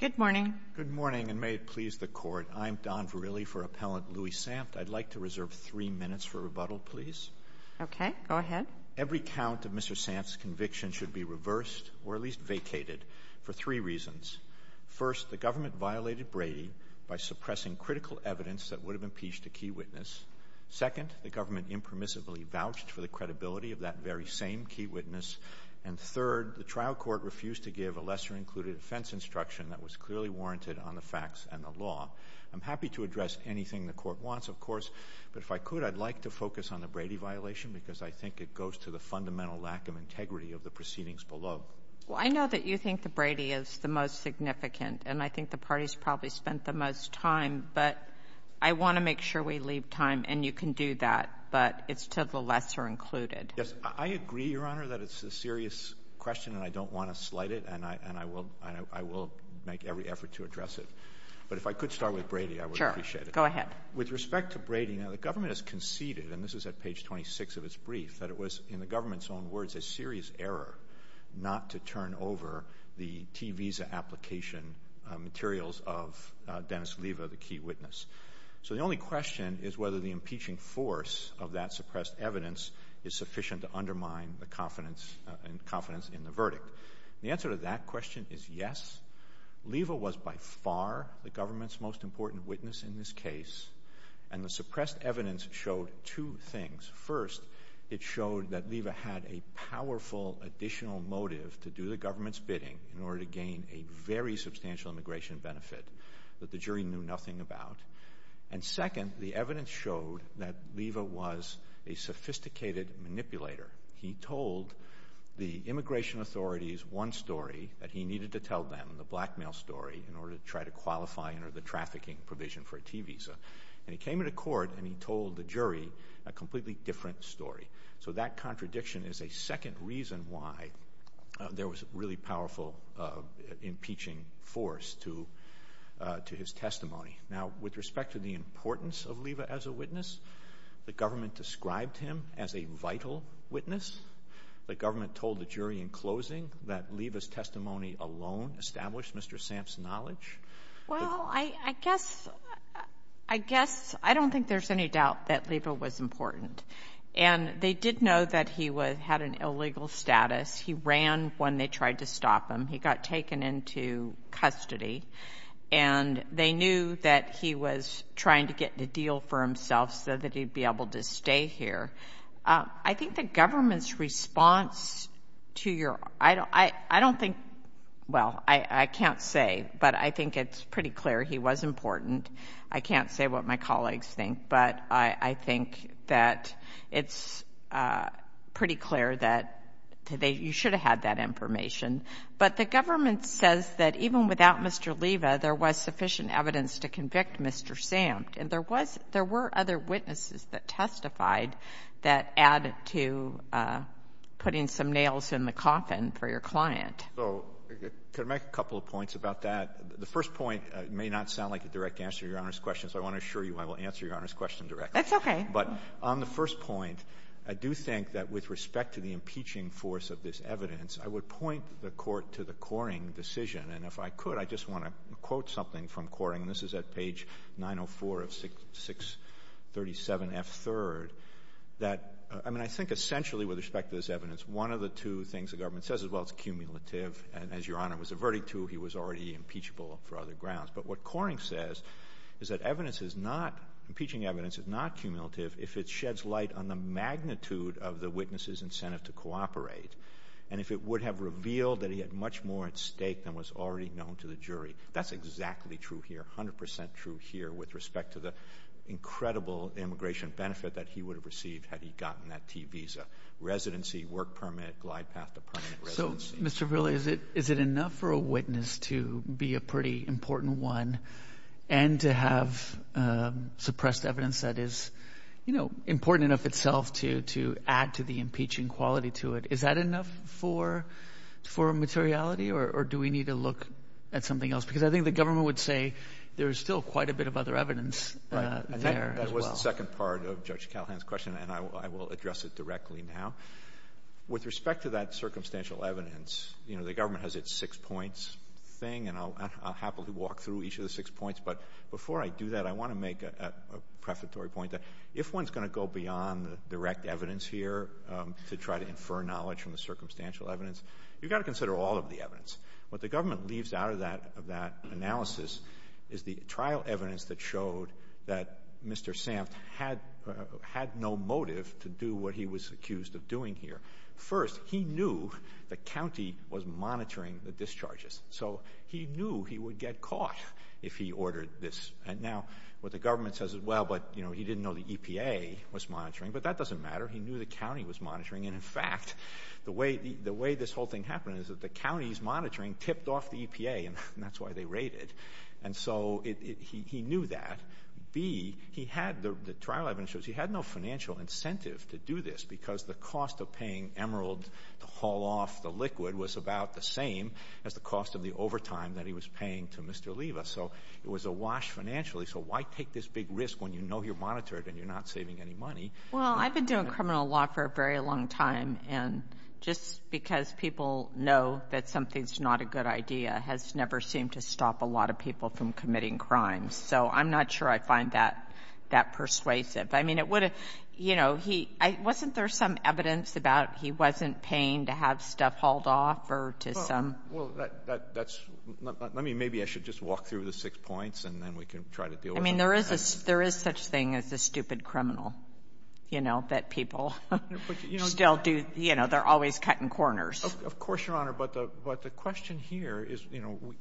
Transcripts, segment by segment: Good morning. Good morning, and may it please the court. I'm Don Verrilli for Appellant Louis Sanft. I'd like to reserve three minutes for rebuttal, please. Okay, go ahead. Every count of Mr. Sanft's conviction should be reversed, or at least vacated, for three reasons. First, the government violated Brady by suppressing critical evidence that would have impeached a key witness. Second, the government impermissibly vouched for the credibility of that very same key witness. And third, the trial court refused to give a lesser included defense instruction that was clearly warranted on the facts and the law. I'm happy to address anything the court wants, of course, but if I could, I'd like to focus on the Brady violation because I think it goes to the fundamental lack of integrity of the proceedings below. Well, I know that you think the Brady is the most significant, and I think the party's probably spent the most time, but I want to make sure we leave time, and you can do that, but it's to the lesser included. Yes, I agree, Your Honor, that it's a serious question, and I don't want to slight it, and I will make every effort to address it. But if I could start with Brady, I would appreciate it. Sure, go ahead. With respect to Brady, now, the government has conceded, and this is at page 26 of its brief, that it was, in the government's own words, a serious error not to turn over the T visa application materials of Dennis Leva, the key witness. So the only question is whether the impeaching force of that suppressed evidence is sufficient to undermine the confidence in the verdict. The answer to that question is yes. Leva was, by far, the government's most important witness in this case, and the suppressed evidence showed two things. First, it showed that Leva had a powerful additional motive to do the government's bidding in order to gain a very substantial immigration benefit that the jury knew nothing about. And second, the evidence showed that Leva was a sophisticated manipulator. He told the immigration authorities one story that he needed to tell them, the blackmail story, in order to try to qualify under the trafficking provision for a T visa. And he came into court, and he told the jury a completely different story. So that contradiction is a second reason why there was a really powerful impeaching force to his testimony. Now, the government described him as a vital witness? The government told the jury in closing that Leva's testimony alone established Mr. Sam's knowledge? Well, I guess... I don't think there's any doubt that Leva was important. And they did know that he had an illegal status. He ran when they tried to stop him. He got taken into custody, and they knew that he was trying to get the deal for himself so that he'd be able to stay here. I think the government's response to your... I don't think... Well, I can't say, but I think it's pretty clear he was important. I can't say what my colleagues think, but I think that it's pretty clear that you should have had that information. But the government says that even without Mr. Leva, there was sufficient evidence to convict Mr. Sam. And there were other witnesses that testified that added to putting some nails in the coffin for your client. So could I make a couple of points about that? The first point may not sound like a direct answer to Your Honor's question, so I wanna assure you I will answer Your Honor's question directly. That's okay. But on the first point, I do think that with respect to the impeaching force of this evidence, I would point the court to the Coring decision. And if I could, I just wanna quote something from Coring, and this is at page 904 of 637 F3rd, that... I think essentially with respect to this evidence, one of the two things the government says is, well, it's cumulative. And as Your Honor was averting to, he was already impeachable for other grounds. But what Coring says is that evidence is not... Impeaching evidence is not cumulative if it sheds light on the magnitude of the witness's incentive to cooperate, and if it would have revealed that he had much more at stake than was already known to the jury. That's exactly true here, 100% true here with respect to the incredible immigration benefit that he would have received had he gotten that T visa. Residency, work permit, glide path to permanent residency. So, Mr. Ville, is it enough for a witness to be a pretty important one and to have suppressed evidence that is important enough itself to add to the impeaching quality to it? Is that enough for materiality, or do we need to look at something else? Because I think the government would say there's still quite a bit of other evidence there as well. That was the second part of Judge Callahan's question, and I will address it directly now. With respect to that circumstantial evidence, the government has its six points thing, and I'll happily walk through each of the six points, but before I do that, I wanna make a prefatory point that if one's looking for knowledge from the circumstantial evidence, you gotta consider all of the evidence. What the government leaves out of that analysis is the trial evidence that showed that Mr. Samft had no motive to do what he was accused of doing here. First, he knew the county was monitoring the discharges, so he knew he would get caught if he ordered this. And now, what the government says is, well, but he didn't know the EPA was monitoring, but that doesn't matter. He knew the county was monitoring, and in fact, the way this whole thing happened is that the county's monitoring tipped off the EPA, and that's why they raided. And so he knew that. B, he had... The trial evidence shows he had no financial incentive to do this because the cost of paying Emerald to haul off the liquid was about the same as the cost of the overtime that he was paying to Mr. Leva. So it was awash financially, so why take this big risk when you know you're monitored and you're not saving any money? Well, I've been doing criminal law for a very long time, and just because people know that something's not a good idea has never seemed to stop a lot of people from committing crimes. So I'm not sure I find that persuasive. I mean, it would have... Wasn't there some evidence about he wasn't paying to have stuff hauled off or to some... Well, that's... Maybe I should just walk through the six points, and then we can try to deal with it. I mean, there is such thing as a stupid criminal, that people still do... They're always cutting corners. Of course, Your Honor, but the question here is,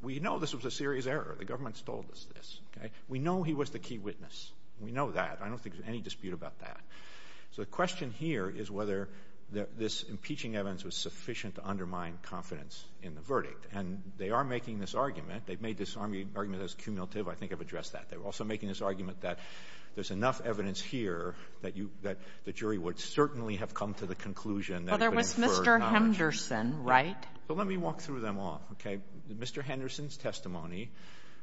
we know this was a serious error. The government's told us this. We know he was the key witness. We know that. I don't think there's any dispute about that. So the question here is whether this impeaching evidence was sufficient to undermine confidence in the verdict. And they are making this argument. They've made this argument as cumulative. I think I've addressed that. They're also making this argument that there's enough evidence here that the jury would certainly have come to the conclusion that... Well, there was Mr. Henderson, right? Well, let me walk through them all, okay? Mr. Henderson's testimony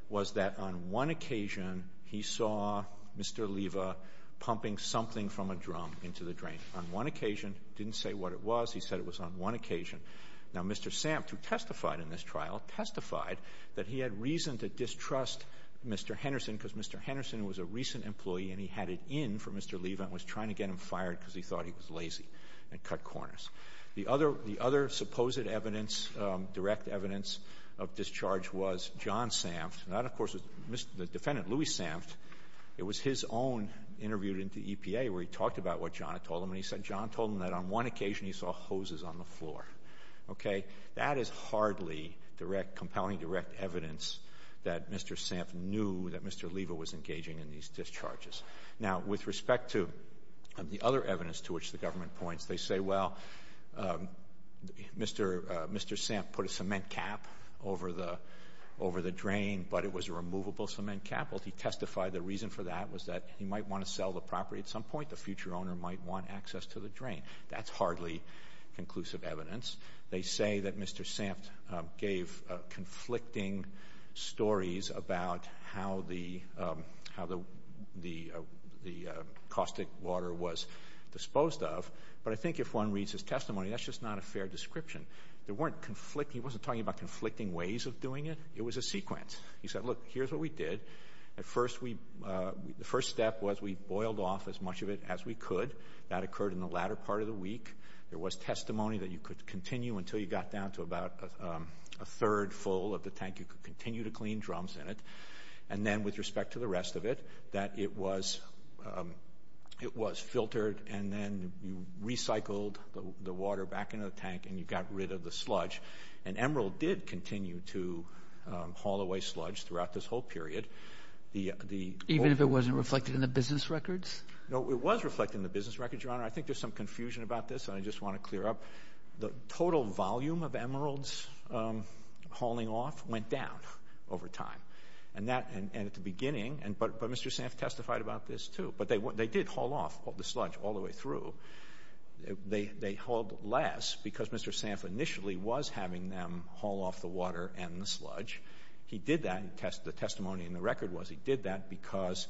was that on one occasion, he saw Mr. Leva pumping something from a drum into the drain. On one occasion, didn't say what it was. He said it was on one occasion. Now, Mr. Samp, Mr. Henderson, because Mr. Henderson was a recent employee and he had it in for Mr. Leva and was trying to get him fired because he thought he was lazy and cut corners. The other supposed evidence, direct evidence of discharge was John Samft. That, of course, was the defendant, Louis Samft. It was his own interviewed into EPA where he talked about what John had told him. And he said John told him that on one occasion, he saw hoses on the floor, okay? That is hardly compelling direct evidence that Mr. Samft knew that Mr. Leva was engaging in these discharges. Now, with respect to the other evidence to which the government points, they say, well, Mr. Samft put a cement cap over the drain, but it was a removable cement cap. He testified the reason for that was that he might wanna sell the property at some point. The future owner might want access to the drain. That's hardly conclusive evidence. They say that Mr. Samft gave conflicting stories about how the caustic water was disposed of. But I think if one reads his testimony, that's just not a fair description. There weren't conflicting... He wasn't talking about conflicting ways of doing it. It was a sequence. He said, look, here's what we did. At first, the first step was we boiled off as much of it as we could. That occurred in the latter part of the week. There was testimony that you could continue until you got down to about a third full of the tank. You could continue to clean drums in it. And then, with respect to the rest of it, that it was filtered, and then you recycled the water back into the tank, and you got rid of the sludge. And Emerald did continue to haul away sludge throughout this whole period. Even if it wasn't reflected in the business records? No, it was reflected in the business records, Your Honor. I think there's some confusion about this, and I just wanna clear up. The total volume of Emerald's hauling off went down over time. And at the beginning... But Mr. Sanff testified about this too. But they did haul off the sludge all the way through. They hauled less because Mr. Sanff initially was having them haul off the water and the sludge. He did that, the testimony in the record was he did that because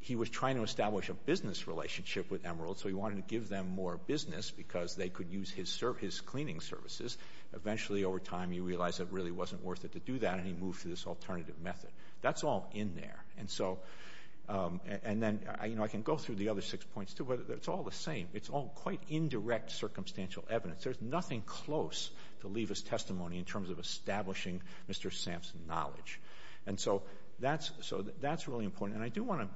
he was trying to establish a business relationship with Emerald, so he wanted to give them more business because they could use his cleaning services. Eventually, over time, he realized it really wasn't worth it to do that, and he moved to this alternative method. That's all in there. And then I can go through the other six points too, but it's all the same. It's all quite indirect circumstantial evidence. There's nothing close to Leva's testimony in terms of establishing Mr. Sanff's knowledge. And so that's really important. And I do wanna...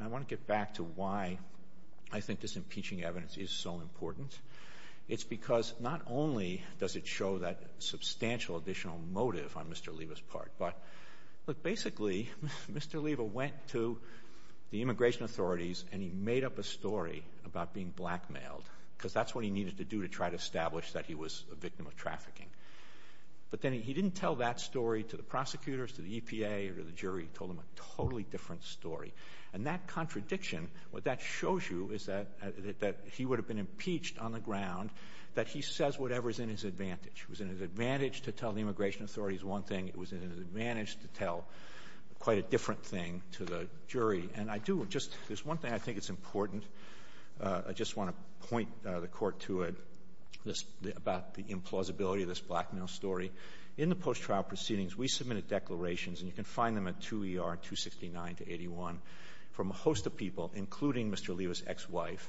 I wanna get back to why I think this impeaching evidence is so important. Not only does it show that substantial additional motive on Mr. Leva's part, but basically, Mr. Leva went to the immigration authorities and he made up a story about being blackmailed, because that's what he needed to do to try to establish that he was a victim of trafficking. But then he didn't tell that story to the prosecutors, to the EPA, or to the jury. He told them a totally different story. And that contradiction, what that shows you is that he would have been impeached on the ground, that he says whatever is in his advantage. It was in his advantage to tell the immigration authorities one thing, it was in his advantage to tell quite a different thing to the jury. And I do just... There's one thing I think is important. I just wanna point the court to it, about the implausibility of this blackmail story. In the post trial proceedings, we submitted declarations, and you can find them at 2 ER 269 to 81, from a host of people, including Mr. Leva's ex wife,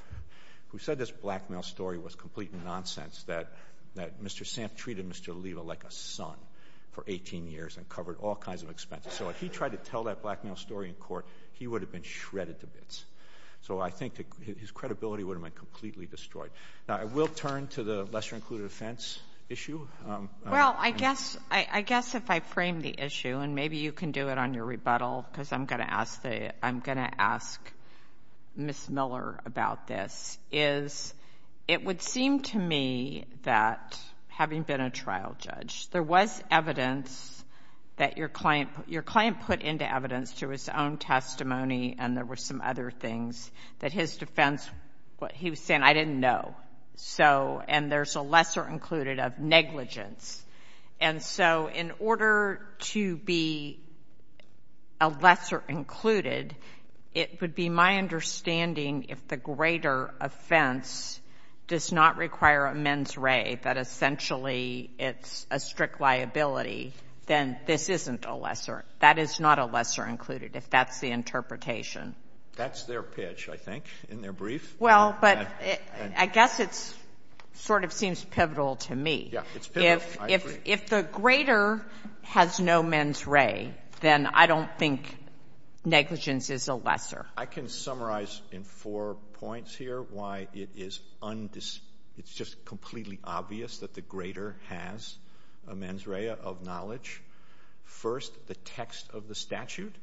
who said this blackmail story was complete nonsense, that Mr. Samp treated Mr. Leva like a son for 18 years and covered all kinds of expenses. So if he tried to tell that blackmail story in court, he would have been shredded to bits. So I think his credibility would have been completely destroyed. Now, I will turn to the lesser included offense issue. Well, I guess if I frame the issue, and maybe you can do it on your rebuttal, because I'm gonna ask Ms. Miller about this, is, it would seem to me that having been a trial judge, there was evidence that your client put into evidence through his own testimony, and there were some other things, that his defense... He was saying, I didn't know. And there's a lesser included of negligence. And so in order to be a lesser included, it would be my understanding, if the greater offense does not require a mens re, that essentially it's a strict liability, then this isn't a lesser. That is not a lesser included, if that's the interpretation. That's their pitch, I think, in their brief. Well, but I guess it sort of seems pivotal to me. Yeah, it's pivotal, I agree. If the greater has no mens re, then I don't think negligence is a lesser. I can summarize in four points here why it is... It's just completely obvious that the greater has a mens re of knowledge. First, the text of the statute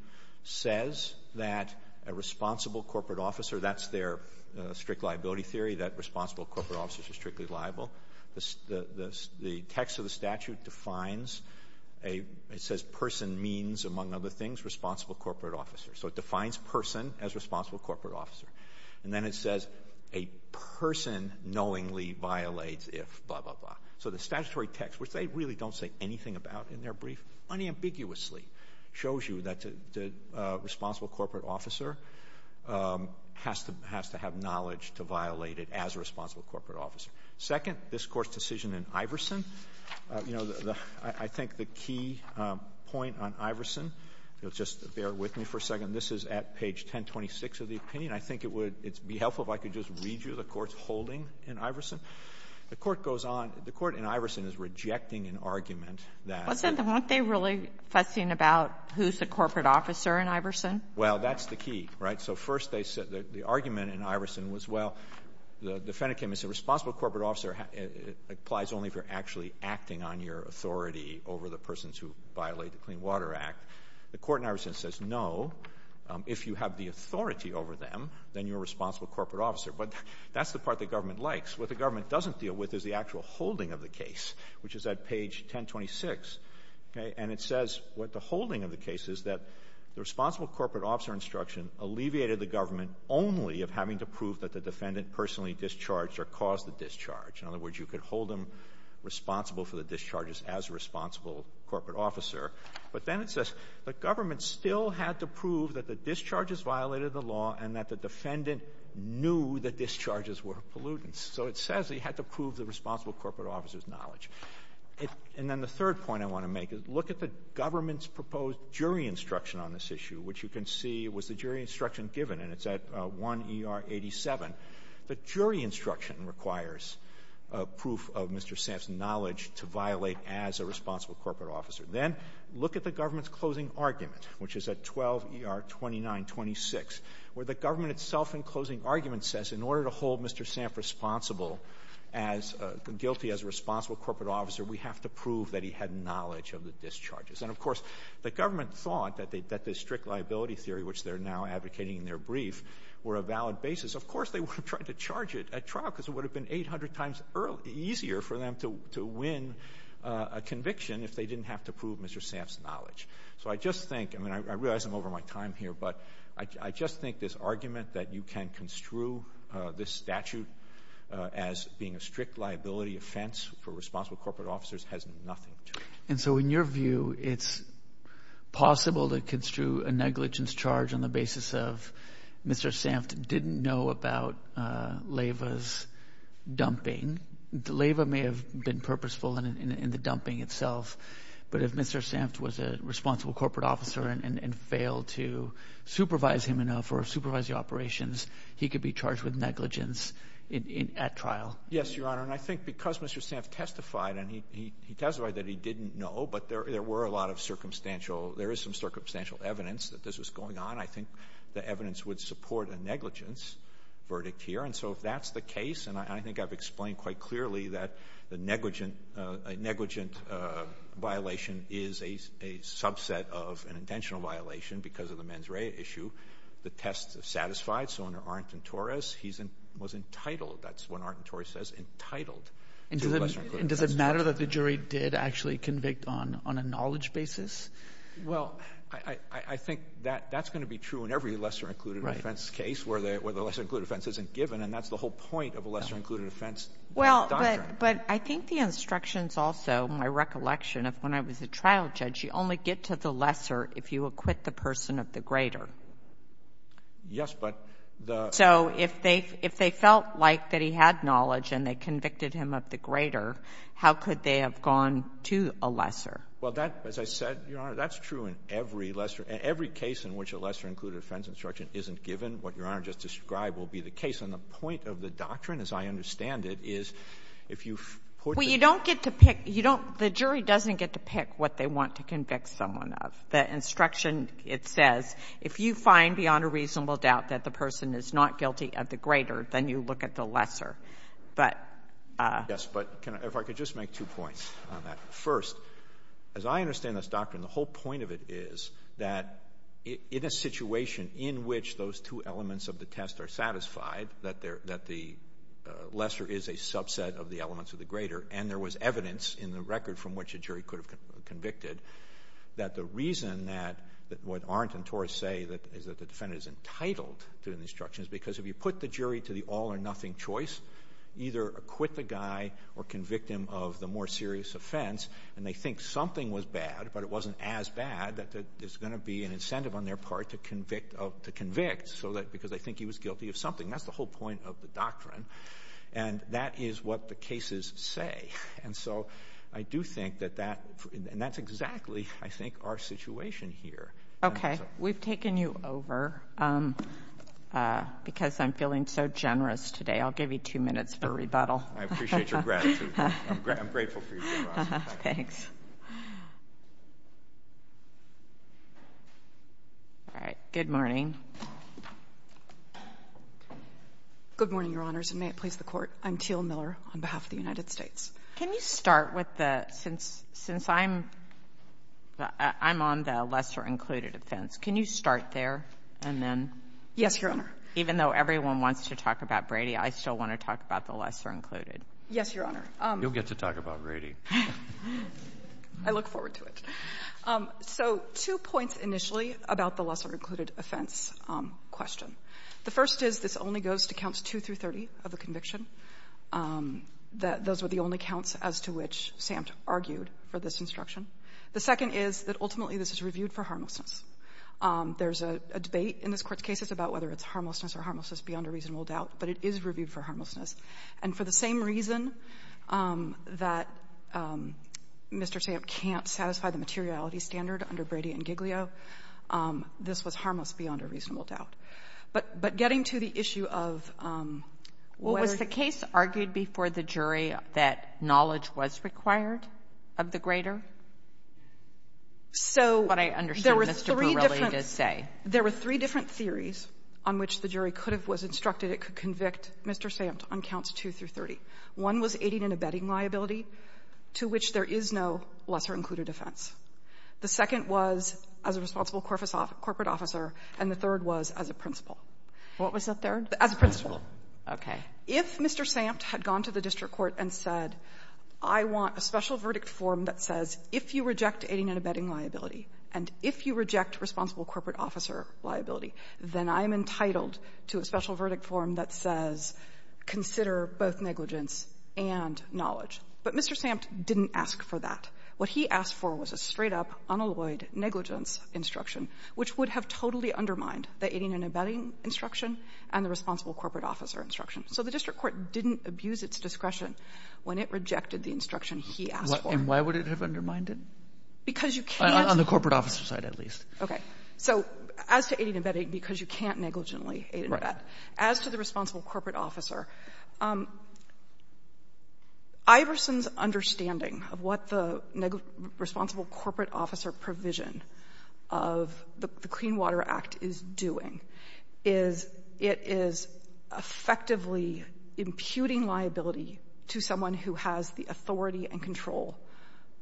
says that a responsible corporate officer, that's their strict liability theory, that responsible corporate officers are responsible corporate officers. The statute defines a... It says person means, among other things, responsible corporate officer. So it defines person as responsible corporate officer. And then it says, a person knowingly violates if blah, blah, blah. So the statutory text, which they really don't say anything about in their brief, unambiguously shows you that the responsible corporate officer has to have knowledge to violate it as a responsible corporate officer. Second, this Court's decision in Iverson, I think the key point on Iverson, just bear with me for a second. This is at page 1026 of the opinion. I think it would be helpful if I could just read you the Court's holding in Iverson. The Court goes on... The Court in Iverson is rejecting an argument that... Well, isn't the... Weren't they really fussing about who's the corporate officer in Iverson? Well, that's the key, right? So first they said that the argument in Iverson is a responsible corporate officer applies only if you're actually acting on your authority over the persons who violate the Clean Water Act. The Court in Iverson says, no, if you have the authority over them, then you're a responsible corporate officer. But that's the part the government likes. What the government doesn't deal with is the actual holding of the case, which is at page 1026. Okay? And it says what the holding of the case is that the responsible corporate officer instruction alleviated the government only of having to prove that the defendant personally discharged or caused the discharge. In other words, you could hold them responsible for the discharges as a responsible corporate officer. But then it says the government still had to prove that the discharges violated the law and that the defendant knew the discharges were pollutants. So it says they had to prove the responsible corporate officer's knowledge. And then the third point I want to make is look at the government's proposed jury instruction on this issue, which you can see was the jury instruction given, and it's at 1 ER 87. The jury instruction requires proof of Mr. Samp's knowledge to violate as a responsible corporate officer. Then look at the government's closing argument, which is at 12 ER 2926, where the government itself in closing argument says in order to hold Mr. Samp responsible as guilty as a responsible corporate officer, we have to prove that he had knowledge of the discharges. And of course, the government thought that the strict liability theory, which they're now advocating in their brief, were a valid basis. Of course, they were trying to get trial because it would have been 800 times easier for them to win a conviction if they didn't have to prove Mr. Samp's knowledge. So I just think I mean, I realize I'm over my time here, but I just think this argument that you can construe this statute as being a strict liability offense for responsible corporate officers has nothing to it. And so in your view, it's possible to construe a negligence charge on the basis of Mr. Samp didn't know about Leyva's dumping. Leyva may have been purposeful in the dumping itself. But if Mr Sampt was a responsible corporate officer and failed to supervise him enough or supervise the operations, he could be charged with negligence at trial. Yes, Your Honor. And I think because Mr Sampt testified and he testified that he didn't know, but there were a lot of circumstantial. There is some circumstantial evidence that this was going on. I think the that's the case. And I think I've explained quite clearly that the negligent negligent violation is a subset of an intentional violation because of the mens rea issue. The tests have satisfied. So under Arndt and Torres, he was entitled. That's what Arndt and Torres says, entitled. And does it matter that the jury did actually convict on a knowledge basis? Well, I think that that's going to be true in every lesser included offense case where the lesser included offense isn't given. And that's the whole point of a lesser included offense doctrine. Well, but I think the instructions also, my recollection of when I was a trial judge, you only get to the lesser if you acquit the person of the greater. Yes, but the so if they if they felt like that he had knowledge and they convicted him of the greater, how could they have gone to a lesser? Well, that, as I said, Your Honor, that's true in every lesser. Every case in which a lesser included offense instruction isn't given, what Your Honor just described, will be the case. And the point of the doctrine, as I understand it, is if you. Well, you don't get to pick, you don't, the jury doesn't get to pick what they want to convict someone of. The instruction, it says, if you find beyond a reasonable doubt that the person is not guilty of the greater, then you look at the lesser. But. Yes, but can I, if I could just make two points on that. First, as I understand this doctrine, the whole point of it is that in a situation in which those two elements of the test are satisfied, that they're, that the lesser is a subset of the elements of the greater, and there was evidence in the record from which a jury could have convicted, that the reason that, that what Arndt and Torres say that is that the defendant is entitled to an instruction is because if you put the jury to the all or nothing choice, either acquit the guy or convict him of the more serious offense, and they think something was bad, but it wasn't as bad, that there's going to be an incentive on their part to convict, to convict, so that, because they think he was guilty of something. That's the whole point of the doctrine, and that is what the cases say. And so, I do think that that, and that's exactly, I think, our situation here. Okay, we've taken you over, because I'm feeling so generous today. I'll give you two minutes for rebuttal. I appreciate your gratitude. I'm grateful for your generosity. Thanks. All right. Good morning. Good morning, Your Honors, and may it please the Court. I'm Teal Miller on behalf of the United States. Can you start with the, since, since I'm, I'm on the lesser-included offense, can you start there and then? Yes, Your Honor. Even though everyone wants to talk about Brady, I still want to talk about the lesser-included. Yes, Your Honor. You'll get to talk about Brady. I look forward to it. So, two points initially about the lesser-included offense question. The first is, this only goes to counts 2 through 30 of the conviction. That those were the only counts as to which Samt argued for this instruction. The second is that, ultimately, this is reviewed for harmlessness. There's a debate in this Court's cases about whether it's harmlessness or harmlessness beyond a reasonable doubt, but it is reviewed for harmlessness. And for the same reason that Mr. Samt can't satisfy the materiality standard under Brady and Giglio, this was harmless beyond a reasonable doubt. But, but getting to the issue of, what was the case argued before the jury that knowledge was required of the grader? So, there were three different, there were three different theories on which the jury could have, was instructed it could convict Mr. Samt on counts 2 through 30. One was aiding and abetting liability, to which there is no lesser-included offense. The second was as a responsible corporate officer, and the third was as a principal. What was the third? As a principal. Okay. If Mr. Samt had gone to the district court and said, I want a special verdict form that says, if you reject aiding and abetting liability, and if you reject responsible corporate officer liability, then I'm entitled to a special verdict form that says, consider both negligence and knowledge. But Mr. Samt didn't ask for that. What he asked for was a straight-up, unalloyed negligence instruction, which would have totally undermined the aiding and abetting instruction and the responsible corporate officer instruction. So the district court didn't abuse its discretion when it rejected the instruction he asked for. And why would it have undermined it? Because you can't On the corporate officer side, at least. Okay. So as to aiding and abetting, because you can't negligently aid and abet. Right. As to the responsible corporate officer, Iverson's understanding of what the responsible corporate officer provision of the Clean Water Act is doing is it is effectively imputing liability to someone who has the authority and control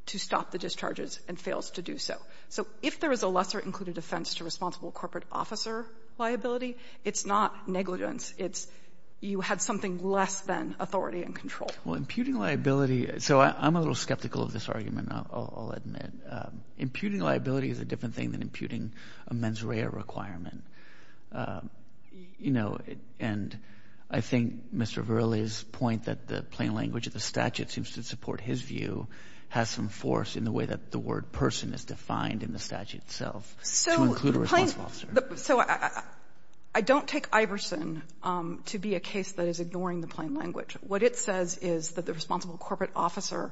to stop the discharges and fails to do so. So if there is a lesser included offense to responsible corporate officer liability, it's not negligence. It's you had something less than authority and control. Well, imputing liability, so I'm a little skeptical of this argument, I'll admit. Imputing liability is a different thing than imputing a mens rea requirement. You know, and I think Mr. Verrilli's point that the plain language of the statute seems to support his view has some force in the way that the word person is defined in the statute itself to include a responsible officer. So I don't take Iverson to be a case that is ignoring the plain language. What it says is that the responsible corporate officer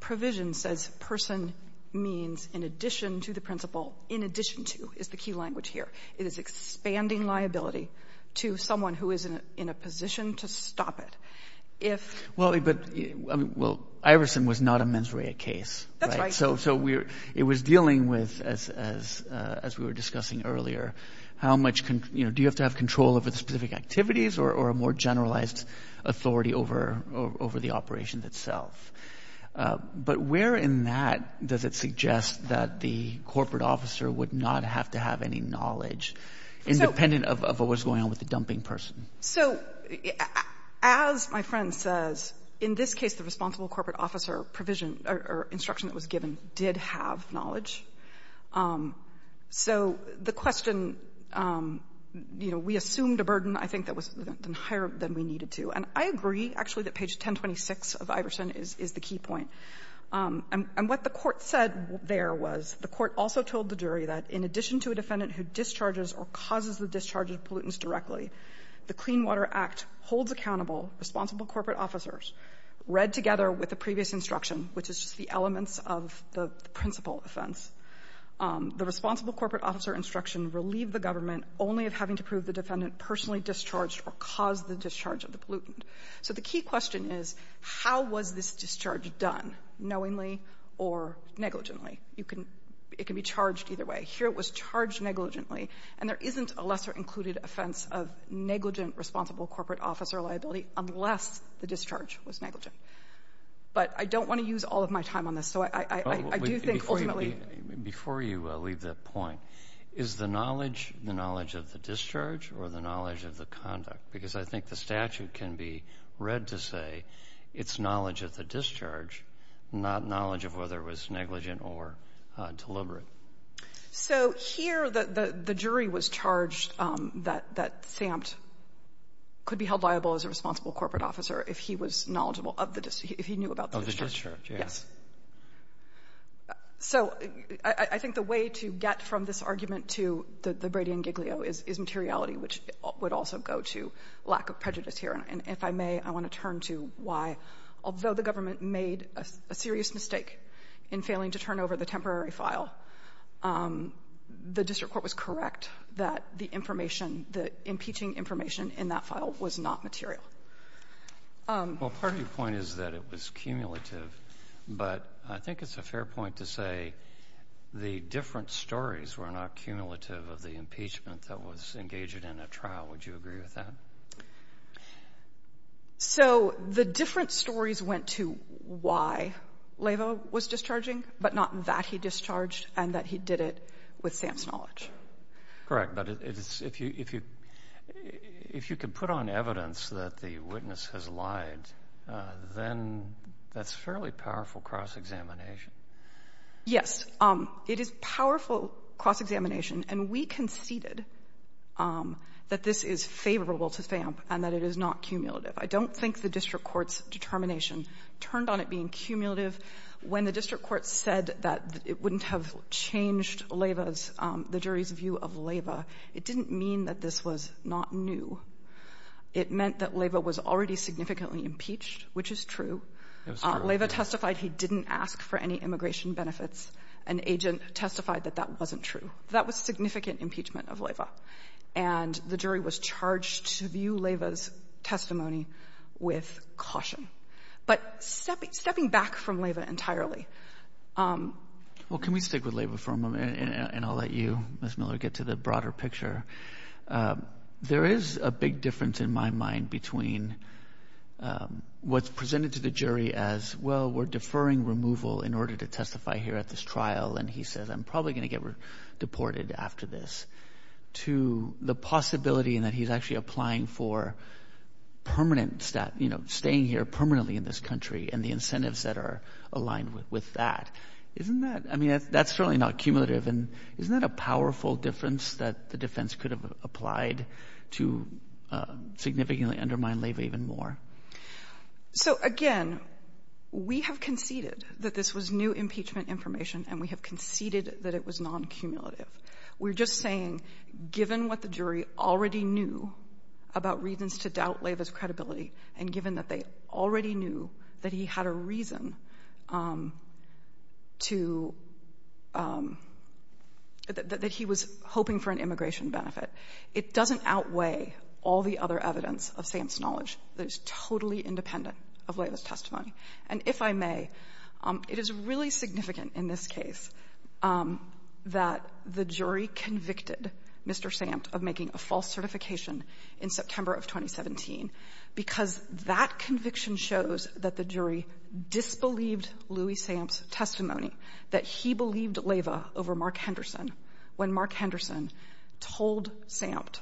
provision says person means in addition to the principal. In addition to is the key language here. It is expanding liability to someone who is in a position to stop it. Well, Iverson was not a mens rea case. That's right. So it was dealing with, as we were discussing earlier, how much, you know, do you have to have control over the specific activities or a more generalized authority over the operation itself? But where in that does it suggest that the corporate officer would not have to have any knowledge independent of what was going on with the dumping person? So as my friend says, in this case, the responsible corporate officer provision or instruction that was given did have knowledge. So the question, you know, we assumed a burden, I think, that was higher than we needed to. And I agree, actually, that page 1026 of Iverson is the key point. And what the Court said there was the Court also told the jury that in addition to a defendant who discharges or causes the discharge of pollutants directly, the Clean Water Act holds accountable responsible corporate officers, read together with the previous instruction, which is just the elements of the principal offense, the responsible corporate officer instruction relieved the government only of having to prove the defendant personally discharged or caused the discharge of the pollutant. So the key question is, how was this discharge done, knowingly or negligently? You can be charged either way. Here it was charged negligently. And there isn't a lesser included offense of negligent responsible corporate officer liability unless the discharge was negligent. But I don't want to use all of my time on this. So I do think, ultimately — Before you leave the point, is the knowledge the knowledge of the discharge or the knowledge of the conduct? Because I think the statute can be read to say it's knowledge of the discharge, not knowledge of whether it was negligent or deliberate. So here the jury was charged that Samt could be held liable as a responsible corporate officer if he was knowledgeable of the — if he knew about the discharge. Yes. So I think the way to get from this argument to the Brady and Giglio is materiality, which would also go to lack of prejudice here. And if I may, I want to turn to why, although the government made a serious mistake in failing to turn over the temporary file, the district court was correct that the information, the impeaching information in that file was not material. Well, part of your point is that it was cumulative. But I think it's a fair point to say the different stories were not cumulative of the impeachment that was engaged in a trial. Would you agree with that? So the different stories went to why Lavo was discharging, but not that he discharged and that he did it with Samt's knowledge. Correct. But if you could put on evidence that the witness has lied, then that's a fairly powerful cross-examination. Yes. It is a powerful cross-examination. And we conceded that this is favorable to Samt and that it is not cumulative. I don't think the district court's determination turned on it being cumulative. When the district court said that it wouldn't have changed Lavo's, the jury's view of Lavo, it didn't mean that this was not new. It meant that Lavo was already significantly impeached, which is true. Lavo testified he didn't ask for any immigration benefits. An agent testified that that wasn't true. That was significant impeachment of Lavo. And the jury was charged to view Lavo's testimony with caution. But stepping back from Lavo entirely. Well, can we stick with Lavo for a moment? And I'll let you, Ms. Miller, get to the broader picture. There is a big difference in my mind between what's presented to the jury as, well, we're deferring removal in order to testify here at this trial. And he says, I'm probably going to get deported after this, to the possibility in that he's actually applying for permanent, you know, staying here permanently in this country and the incentives that are aligned with that. Isn't that, I mean, that's certainly not cumulative. And isn't that a powerful difference that the defense could have applied to significantly undermine Lavo even more? So, again, we have conceded that this was new impeachment information and we have conceded that it was non-cumulative. We're just saying, given what the jury already knew about reasons to doubt Lavo's credibility, and given that they already knew that he had a reason to, that he was hoping for an immigration benefit. It doesn't outweigh all the other evidence of Sam's knowledge. That is totally independent of Lavo's testimony. And if I may, it is really significant in this case that the jury convicted Mr. Sampt of making a false certification in September of 2017 because that conviction shows that the jury disbelieved Louis Sampt's testimony, that he believed Lavo over when Mark Henderson told Sampt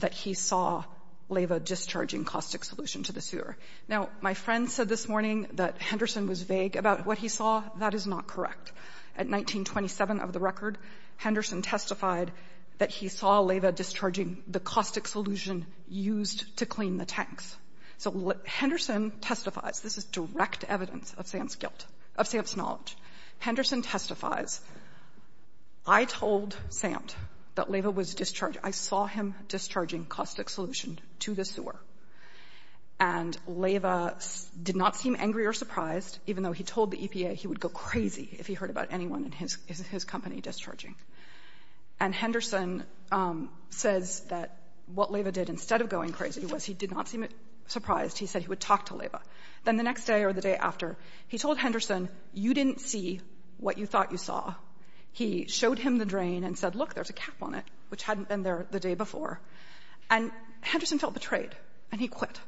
that he saw Lavo discharging caustic solution to the sewer. Now, my friend said this morning that Henderson was vague about what he saw. That is not correct. At 1927 of the record, Henderson testified that he saw Lavo discharging the caustic solution used to clean the tanks. So Henderson testifies. This is direct evidence of Sampt's guilt, of Sampt's knowledge. Henderson testifies, I told Sampt that Lavo was discharging. I saw him discharging caustic solution to the sewer. And Lavo did not seem angry or surprised, even though he told the EPA he would go crazy if he heard about anyone in his company discharging. And Henderson says that what Lavo did instead of going crazy was he did not seem surprised. He said he would talk to Lavo. Then the next day or the day after, he told Henderson, you didn't see what you thought you saw. He showed him the drain and said, look, there's a cap on it, which hadn't been there the day before. And Henderson felt betrayed, and he quit.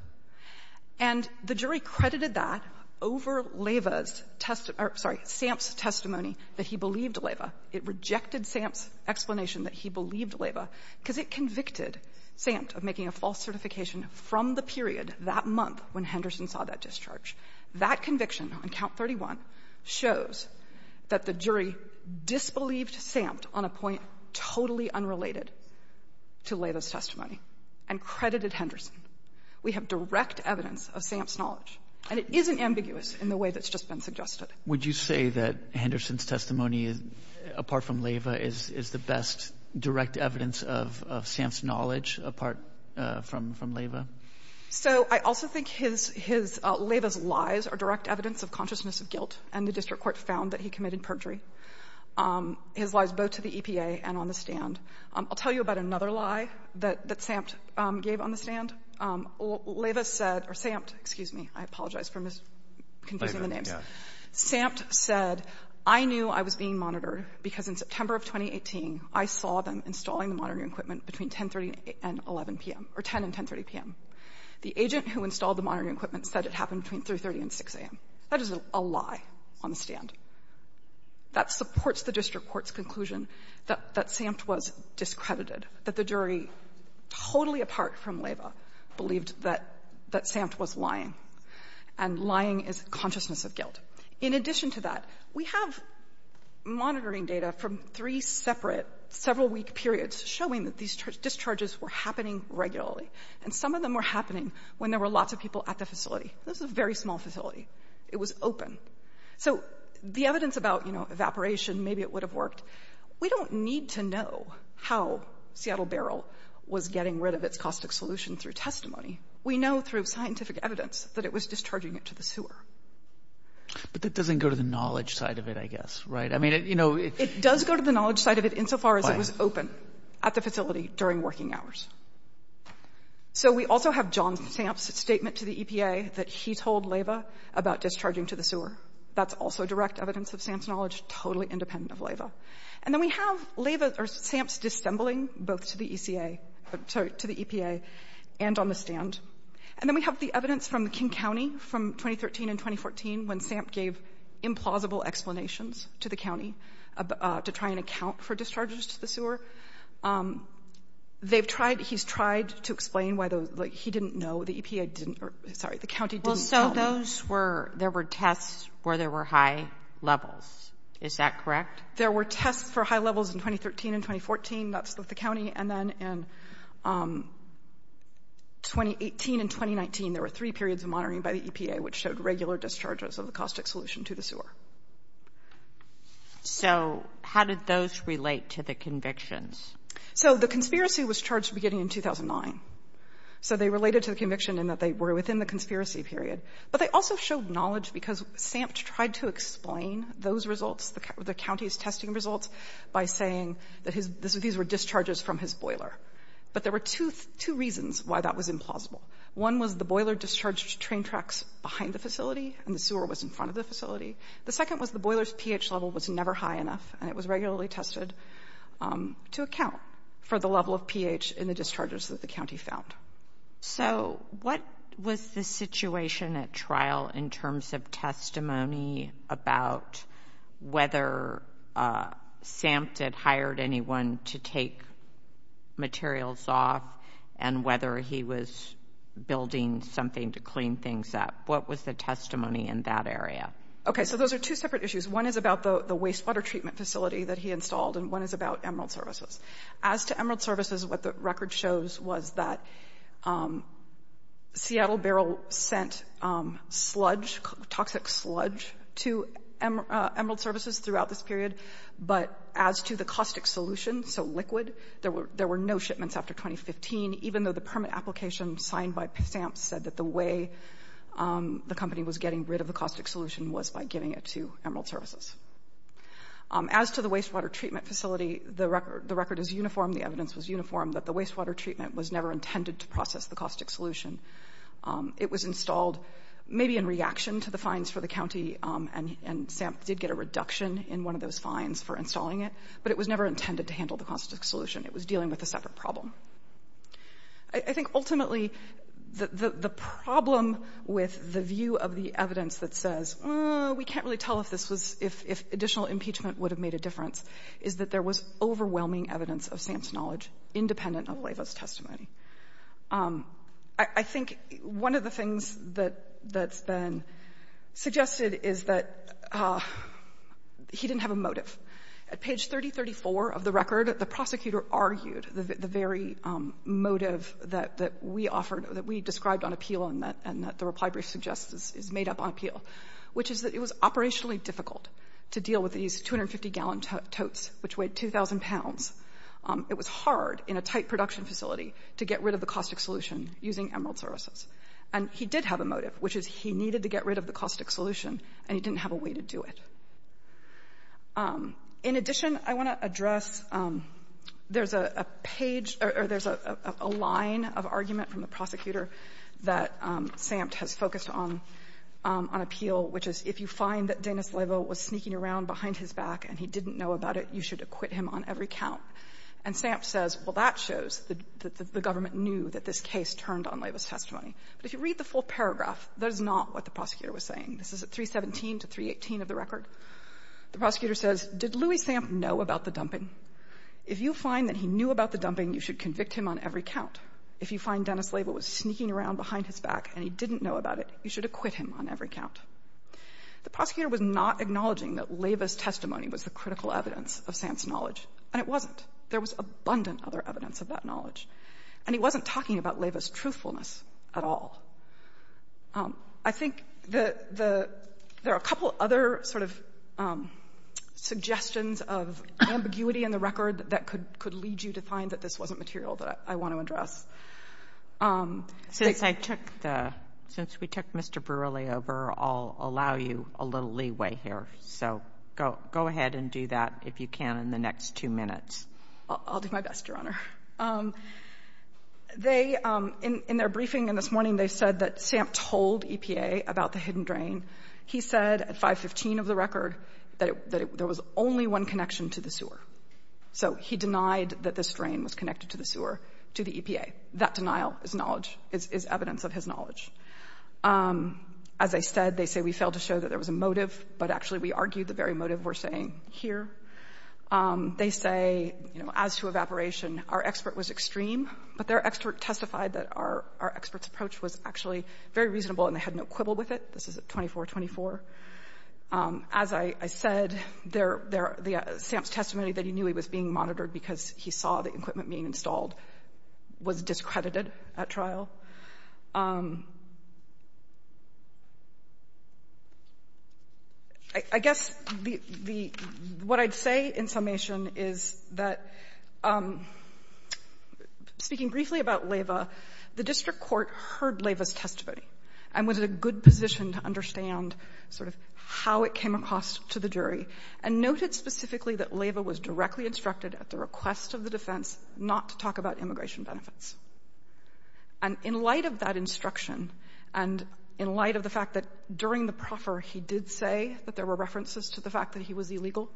And the jury credited that over Lavo's testimony or, sorry, Sampt's testimony that he believed Lavo. It rejected Sampt's explanation that he believed Lavo because it convicted Sampt of making a false certification from the period that month when Henderson saw that discharge. That conviction on count 31 shows that the jury disbelieved Sampt on a point totally unrelated to Lavo's testimony and credited Henderson. We have direct evidence of Sampt's knowledge, and it isn't ambiguous in the way that's just been suggested. Would you say that Henderson's testimony, apart from Lavo, is the best direct evidence of Sampt's knowledge apart from Lavo? So I also think Lavo's lies are direct evidence of consciousness of guilt, and the district court found that he committed perjury, his lies both to the EPA and on the stand. I'll tell you about another lie that Sampt gave on the stand. Lavo said, or Sampt, excuse me, I apologize for confusing the names. Sampt said, I knew I was being monitored because in September of 2018, I saw them installing the monitoring equipment between 10 and 10.30 p.m. The agent who installed the monitoring equipment said it happened between 3.30 and 6.00 a.m. That is a lie on the stand. That supports the district court's conclusion that Sampt was discredited, that the jury, totally apart from Lavo, believed that Sampt was lying, and lying is consciousness of guilt. In addition to that, we have monitoring data from three separate several-week periods showing that these discharges were happening regularly, and some of them were happening when there were lots of people at the facility. This was a very small facility. It was open. So the evidence about, you know, evaporation, maybe it would have worked, we don't need to know how Seattle Barrel was getting rid of its caustic solution through testimony. We know through scientific evidence that it was discharging it to the sewer. But that doesn't go to the knowledge side of it, I guess, right? I mean, you know, it does go to the knowledge side of it insofar as it was open at the facility during working hours. So we also have John Sampt's statement to the EPA that he told Lavo about discharging to the sewer. That's also direct evidence of Sampt's knowledge, totally independent of Lavo. And then we have Lavo, or Sampt's dissembling, both to the EPA and on the stand. And then we have the evidence from King County from 2013 and 2014 when Sampt gave implausible explanations to the county to try and account for discharges to the sewer. He's tried to explain why he didn't know, the EPA didn't, sorry, the county didn't know. Well, so those were, there were tests where there were high levels. Is that correct? There were tests for high levels in 2013 and 2014. That's with the county. And then in 2018 and 2019, there were three periods of monitoring by the EPA which showed regular discharges of the caustic solution to the sewer. So how did those relate to the convictions? So the conspiracy was charged beginning in 2009. So they related to the conviction in that they were within the conspiracy period. But they also showed knowledge because Sampt tried to explain those results, the these were discharges from his boiler. But there were two reasons why that was implausible. One was the boiler discharged train tracks behind the facility and the sewer was in front of the facility. The second was the boiler's pH level was never high enough and it was regularly tested to account for the level of pH in the discharges that the county found. So what was the situation at trial in terms of testimony about whether Sampt had hired anyone to take materials off and whether he was building something to clean things up? What was the testimony in that area? Okay. So those are two separate issues. One is about the wastewater treatment facility that he installed and one is about Emerald Services. As to Emerald Services, what the record shows was that Seattle Barrel sent sludge, toxic sludge, to Emerald Services throughout this period. But as to the caustic solution, so liquid, there were no shipments after 2015, even though the permit application signed by Sampt said that the way the company was getting rid of the caustic solution was by giving it to Emerald Services. As to the wastewater treatment facility, the record is uniform. The evidence was uniform that the wastewater treatment was never intended to process the caustic solution. It was installed maybe in reaction to the fines for the county, and Sampt did get a reduction in one of those fines for installing it, but it was never intended to handle the caustic solution. It was dealing with a separate problem. I think ultimately the problem with the view of the evidence that says, oh, we can't really tell if additional impeachment would have made a difference, is that there was I think one of the things that's been suggested is that he didn't have a motive. At page 3034 of the record, the prosecutor argued the very motive that we described on appeal and that the reply brief suggests is made up on appeal, which is that it was operationally difficult to deal with these 250-gallon totes, which weighed 2,000 pounds. It was hard in a tight production facility to get rid of the caustic solution using Emerald Services. And he did have a motive, which is he needed to get rid of the caustic solution, and he didn't have a way to do it. In addition, I want to address there's a page or there's a line of argument from the prosecutor that Sampt has focused on, on appeal, which is if you find that Dennis Levo was sneaking around behind his back and he didn't know about it, you should acquit him on every count. And Sampt says, well, that shows that the government knew that this case turned on Levo's testimony. But if you read the full paragraph, that is not what the prosecutor was saying. This is at 317 to 318 of the record. The prosecutor says, did Louis Sampt know about the dumping? If you find that he knew about the dumping, you should convict him on every count. If you find Dennis Levo was sneaking around behind his back and he didn't know about it, you should acquit him on every count. The prosecutor was not acknowledging that Levo's testimony was the critical evidence of Sampt's knowledge. And it wasn't. There was abundant other evidence of that knowledge. And he wasn't talking about Levo's truthfulness at all. I think there are a couple other sort of suggestions of ambiguity in the record that could lead you to find that this wasn't material that I want to address. Since I took the, since we took Mr. Brewerly over, I'll allow you a little leeway here. So go ahead and do that if you can in the next two minutes. I'll do my best, Your Honor. They, in their briefing this morning, they said that Sampt told EPA about the hidden drain. He said at 515 of the record that there was only one connection to the sewer. So he denied that this drain was connected to the sewer, to the EPA. That denial is knowledge, is evidence of his knowledge. As I said, they say we failed to show that there was a motive, but actually we argued the very motive we're saying here. They say, you know, as to evaporation, our expert was extreme. But their expert testified that our expert's approach was actually very reasonable and they had no quibble with it. This is at 2424. As I said, Sampt's testimony that he knew he was being monitored because he saw the equipment being installed was discredited at trial. And I guess the what I'd say in summation is that speaking briefly about Leyva, the district court heard Leyva's testimony and was in a good position to understand sort of how it came across to the jury and noted specifically that Leyva was directly instructed at the request of the defense not to talk about immigration benefits. And in light of that instruction and in light of the fact that during the proffer, he did say that there were references to the fact that he was illegal,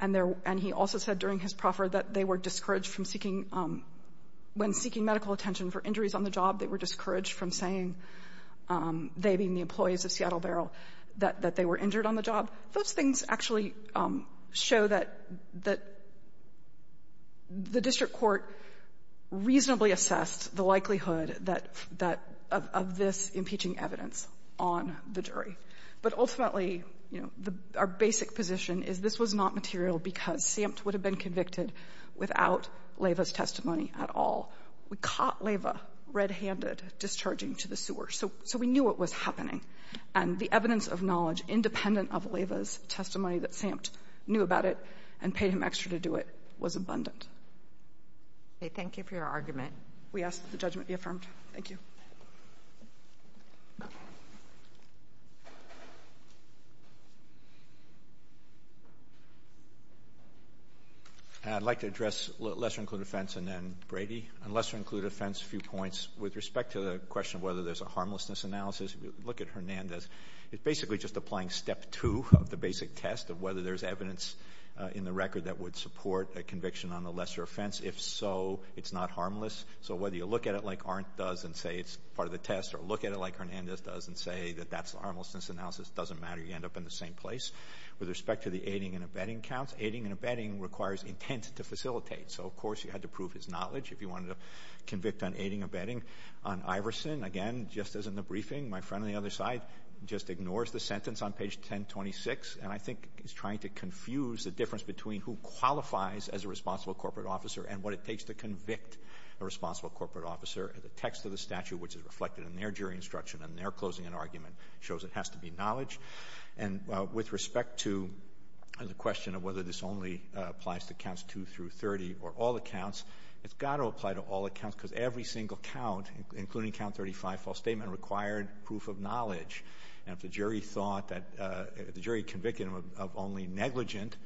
and he also said during his proffer that they were discouraged from seeking, when seeking medical attention for injuries on the job, they were discouraged from saying, they being the employees of Seattle Barrel, that they were injured on the job. Those things actually show that the district court reasonably assessed the likelihood that of this impeaching evidence on the jury. But ultimately, you know, our basic position is this was not material because Sampt would have been convicted without Leyva's testimony at all. We caught Leyva red-handed discharging to the sewer, so we knew what was happening. And the evidence of knowledge independent of Leyva's testimony that Sampt knew about it and paid him extra to do it was abundant. Okay. Thank you for your argument. We ask that the judgment be affirmed. Thank you. I'd like to address lesser-included offense and then Brady. On lesser-included offense, a few points. With respect to the question of whether there's a harmlessness analysis, look at Hernandez. It's basically just applying step two of the basic test of whether there's evidence in the record that would support a conviction on a lesser offense. If so, it's not harmless. So whether you look at it like Arndt does and say it's part of the test or look at it like Hernandez does and say that that's the harmlessness analysis, doesn't matter. You end up in the same place. With respect to the aiding and abetting counts, aiding and abetting requires intent to facilitate. So, of course, you had to prove his knowledge if you wanted to convict on aiding and abetting. On Iverson, again, just as in the briefing, my friend on the other side just ignores the sentence on page 1026, and I think he's trying to confuse the difference between who qualifies as a responsible corporate officer and what it takes to convict a responsible corporate officer. The text of the statute, which is reflected in their jury instruction and their closing and argument, shows it has to be knowledge. And with respect to the question of whether this only applies to counts 2 through 30 or all accounts, it's got to apply to all accounts because every single count, including count 35, false statement, required proof of knowledge. And if the jury thought that the jury convicted him of only negligent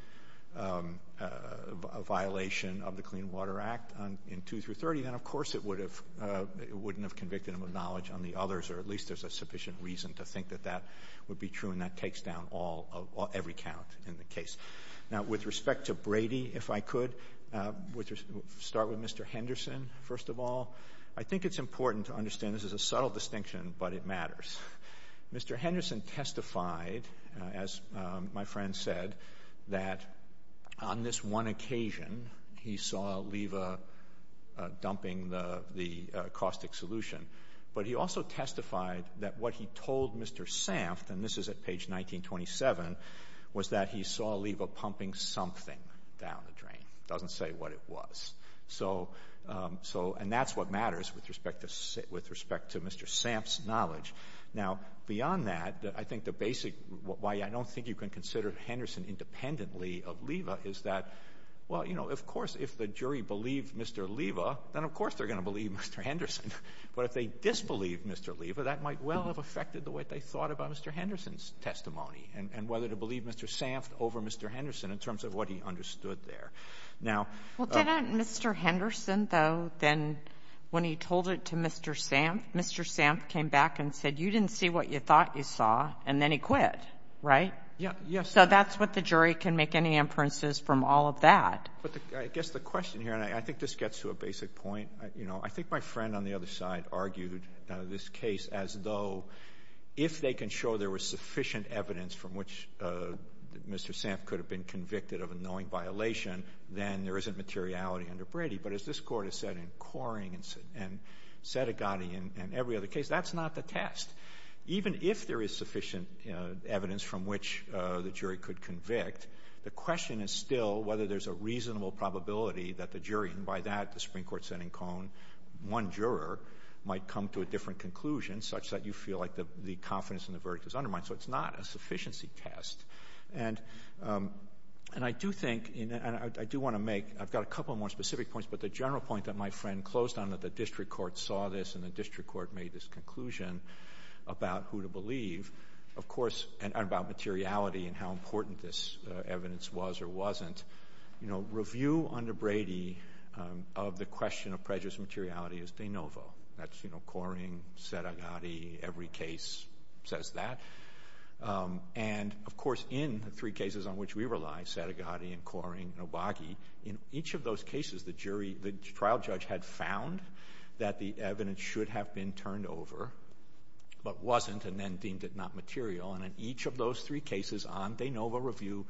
violation of the Clean Water Act in 2 through 30, then, of course, it wouldn't have convicted him of knowledge on the others. Or at least there's a sufficient reason to think that that would be true, and that takes down every count in the case. Now, with respect to Brady, if I could, we'll start with Mr. Henderson, first of all. I think it's important to understand this is a subtle distinction, but it matters. Mr. Henderson testified, as my friend said, that on this one occasion, he saw Leva dumping the caustic solution, but he also testified that what he told Mr. Samft, and this is at page 1927, was that he saw Leva pumping something down the drain. It doesn't say what it was. And that's what matters with respect to Mr. Samft's knowledge. Now, beyond that, I think the basic—why I don't think you can consider Henderson independently of Leva is that, well, you know, of course, if the jury believed Mr. Leva, then of course they're going to believe Mr. Henderson. But if they disbelieved Mr. Leva, that might well have affected the way they thought about Mr. Henderson's testimony, and whether to believe Mr. Samft over Mr. Henderson in terms of what he understood there. Now— Well, didn't Mr. Henderson, though, then, when he told it to Mr. Samft, Mr. Samft came back and said, you didn't see what you thought you saw, and then he quit, right? Yeah, yes. So that's what the jury can make any inferences from all of that. But I guess the question here—and I think this gets to a basic point—you know, I think my friend on the other side argued this case as though if they can show there was sufficient evidence from which Mr. Samft could have been convicted of a knowing violation, then there isn't materiality under Brady. But as this Court has said in Coring and Sedigatti and every other case, that's not the test. Even if there is sufficient evidence from which the jury could convict, the question is still whether there's a reasonable probability that the jury—and by that, the Supreme Court sent in Cohn—one juror might come to a different conclusion, such that you feel like the confidence in the verdict is undermined. So it's not a sufficiency test. And I do think—and I do want to make—I've got a couple more specific points, but the general point that my friend closed on, that the District Court saw this and the District Court made this conclusion about who to believe, of course—and about materiality and how it wasn't—you know, review under Brady of the question of prejudice and materiality is de novo. That's, you know, Coring, Sedigatti, every case says that. And, of course, in the three cases on which we rely, Sedigatti and Coring and Obagi, in each of those cases, the jury—the trial judge had found that the evidence should have been turned over, but wasn't, and then deemed it not material. And in each of those three cases on de novo review,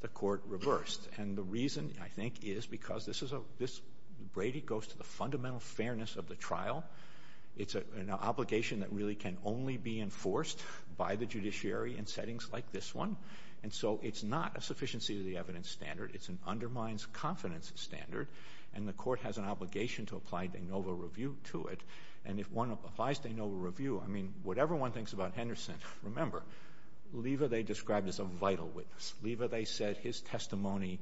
the Court reversed. And the reason, I think, is because this is a—this—Brady goes to the fundamental fairness of the trial. It's an obligation that really can only be enforced by the judiciary in settings like this one. And so it's not a sufficiency to the evidence standard. It's an undermines confidence standard. And the Court has an obligation to apply de novo review to it. And if one applies de novo review, I mean, whatever one thinks about Henderson, remember, Lever, they described as a vital witness. Lever, they said, his testimony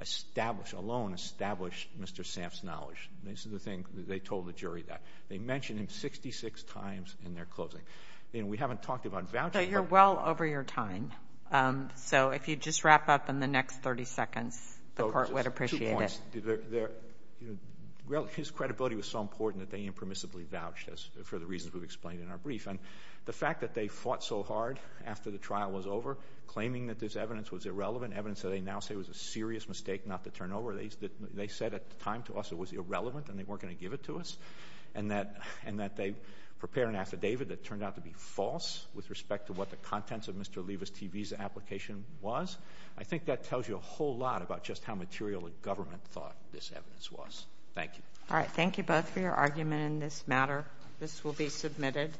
established—alone established Mr. Samph's knowledge. This is the thing. They told the jury that. They mentioned him 66 times in their closing. You know, we haven't talked about voucher— But you're well over your time. So if you'd just wrap up in the next 30 seconds, the Court would appreciate it. Well, his credibility was so important that they impermissibly vouched for the reasons we've explained in our brief. And the fact that they fought so hard after the trial was over, claiming that this evidence was irrelevant, evidence that they now say was a serious mistake not to turn over, they said at the time to us it was irrelevant and they weren't going to give it to us, and that they prepared an affidavit that turned out to be false with respect to what the contents of Mr. Lever's TV's application was. I think that tells you a whole lot about just how material the government thought this evidence was. Thank you. All right. Thank you both for your argument in this matter. This will be submitted.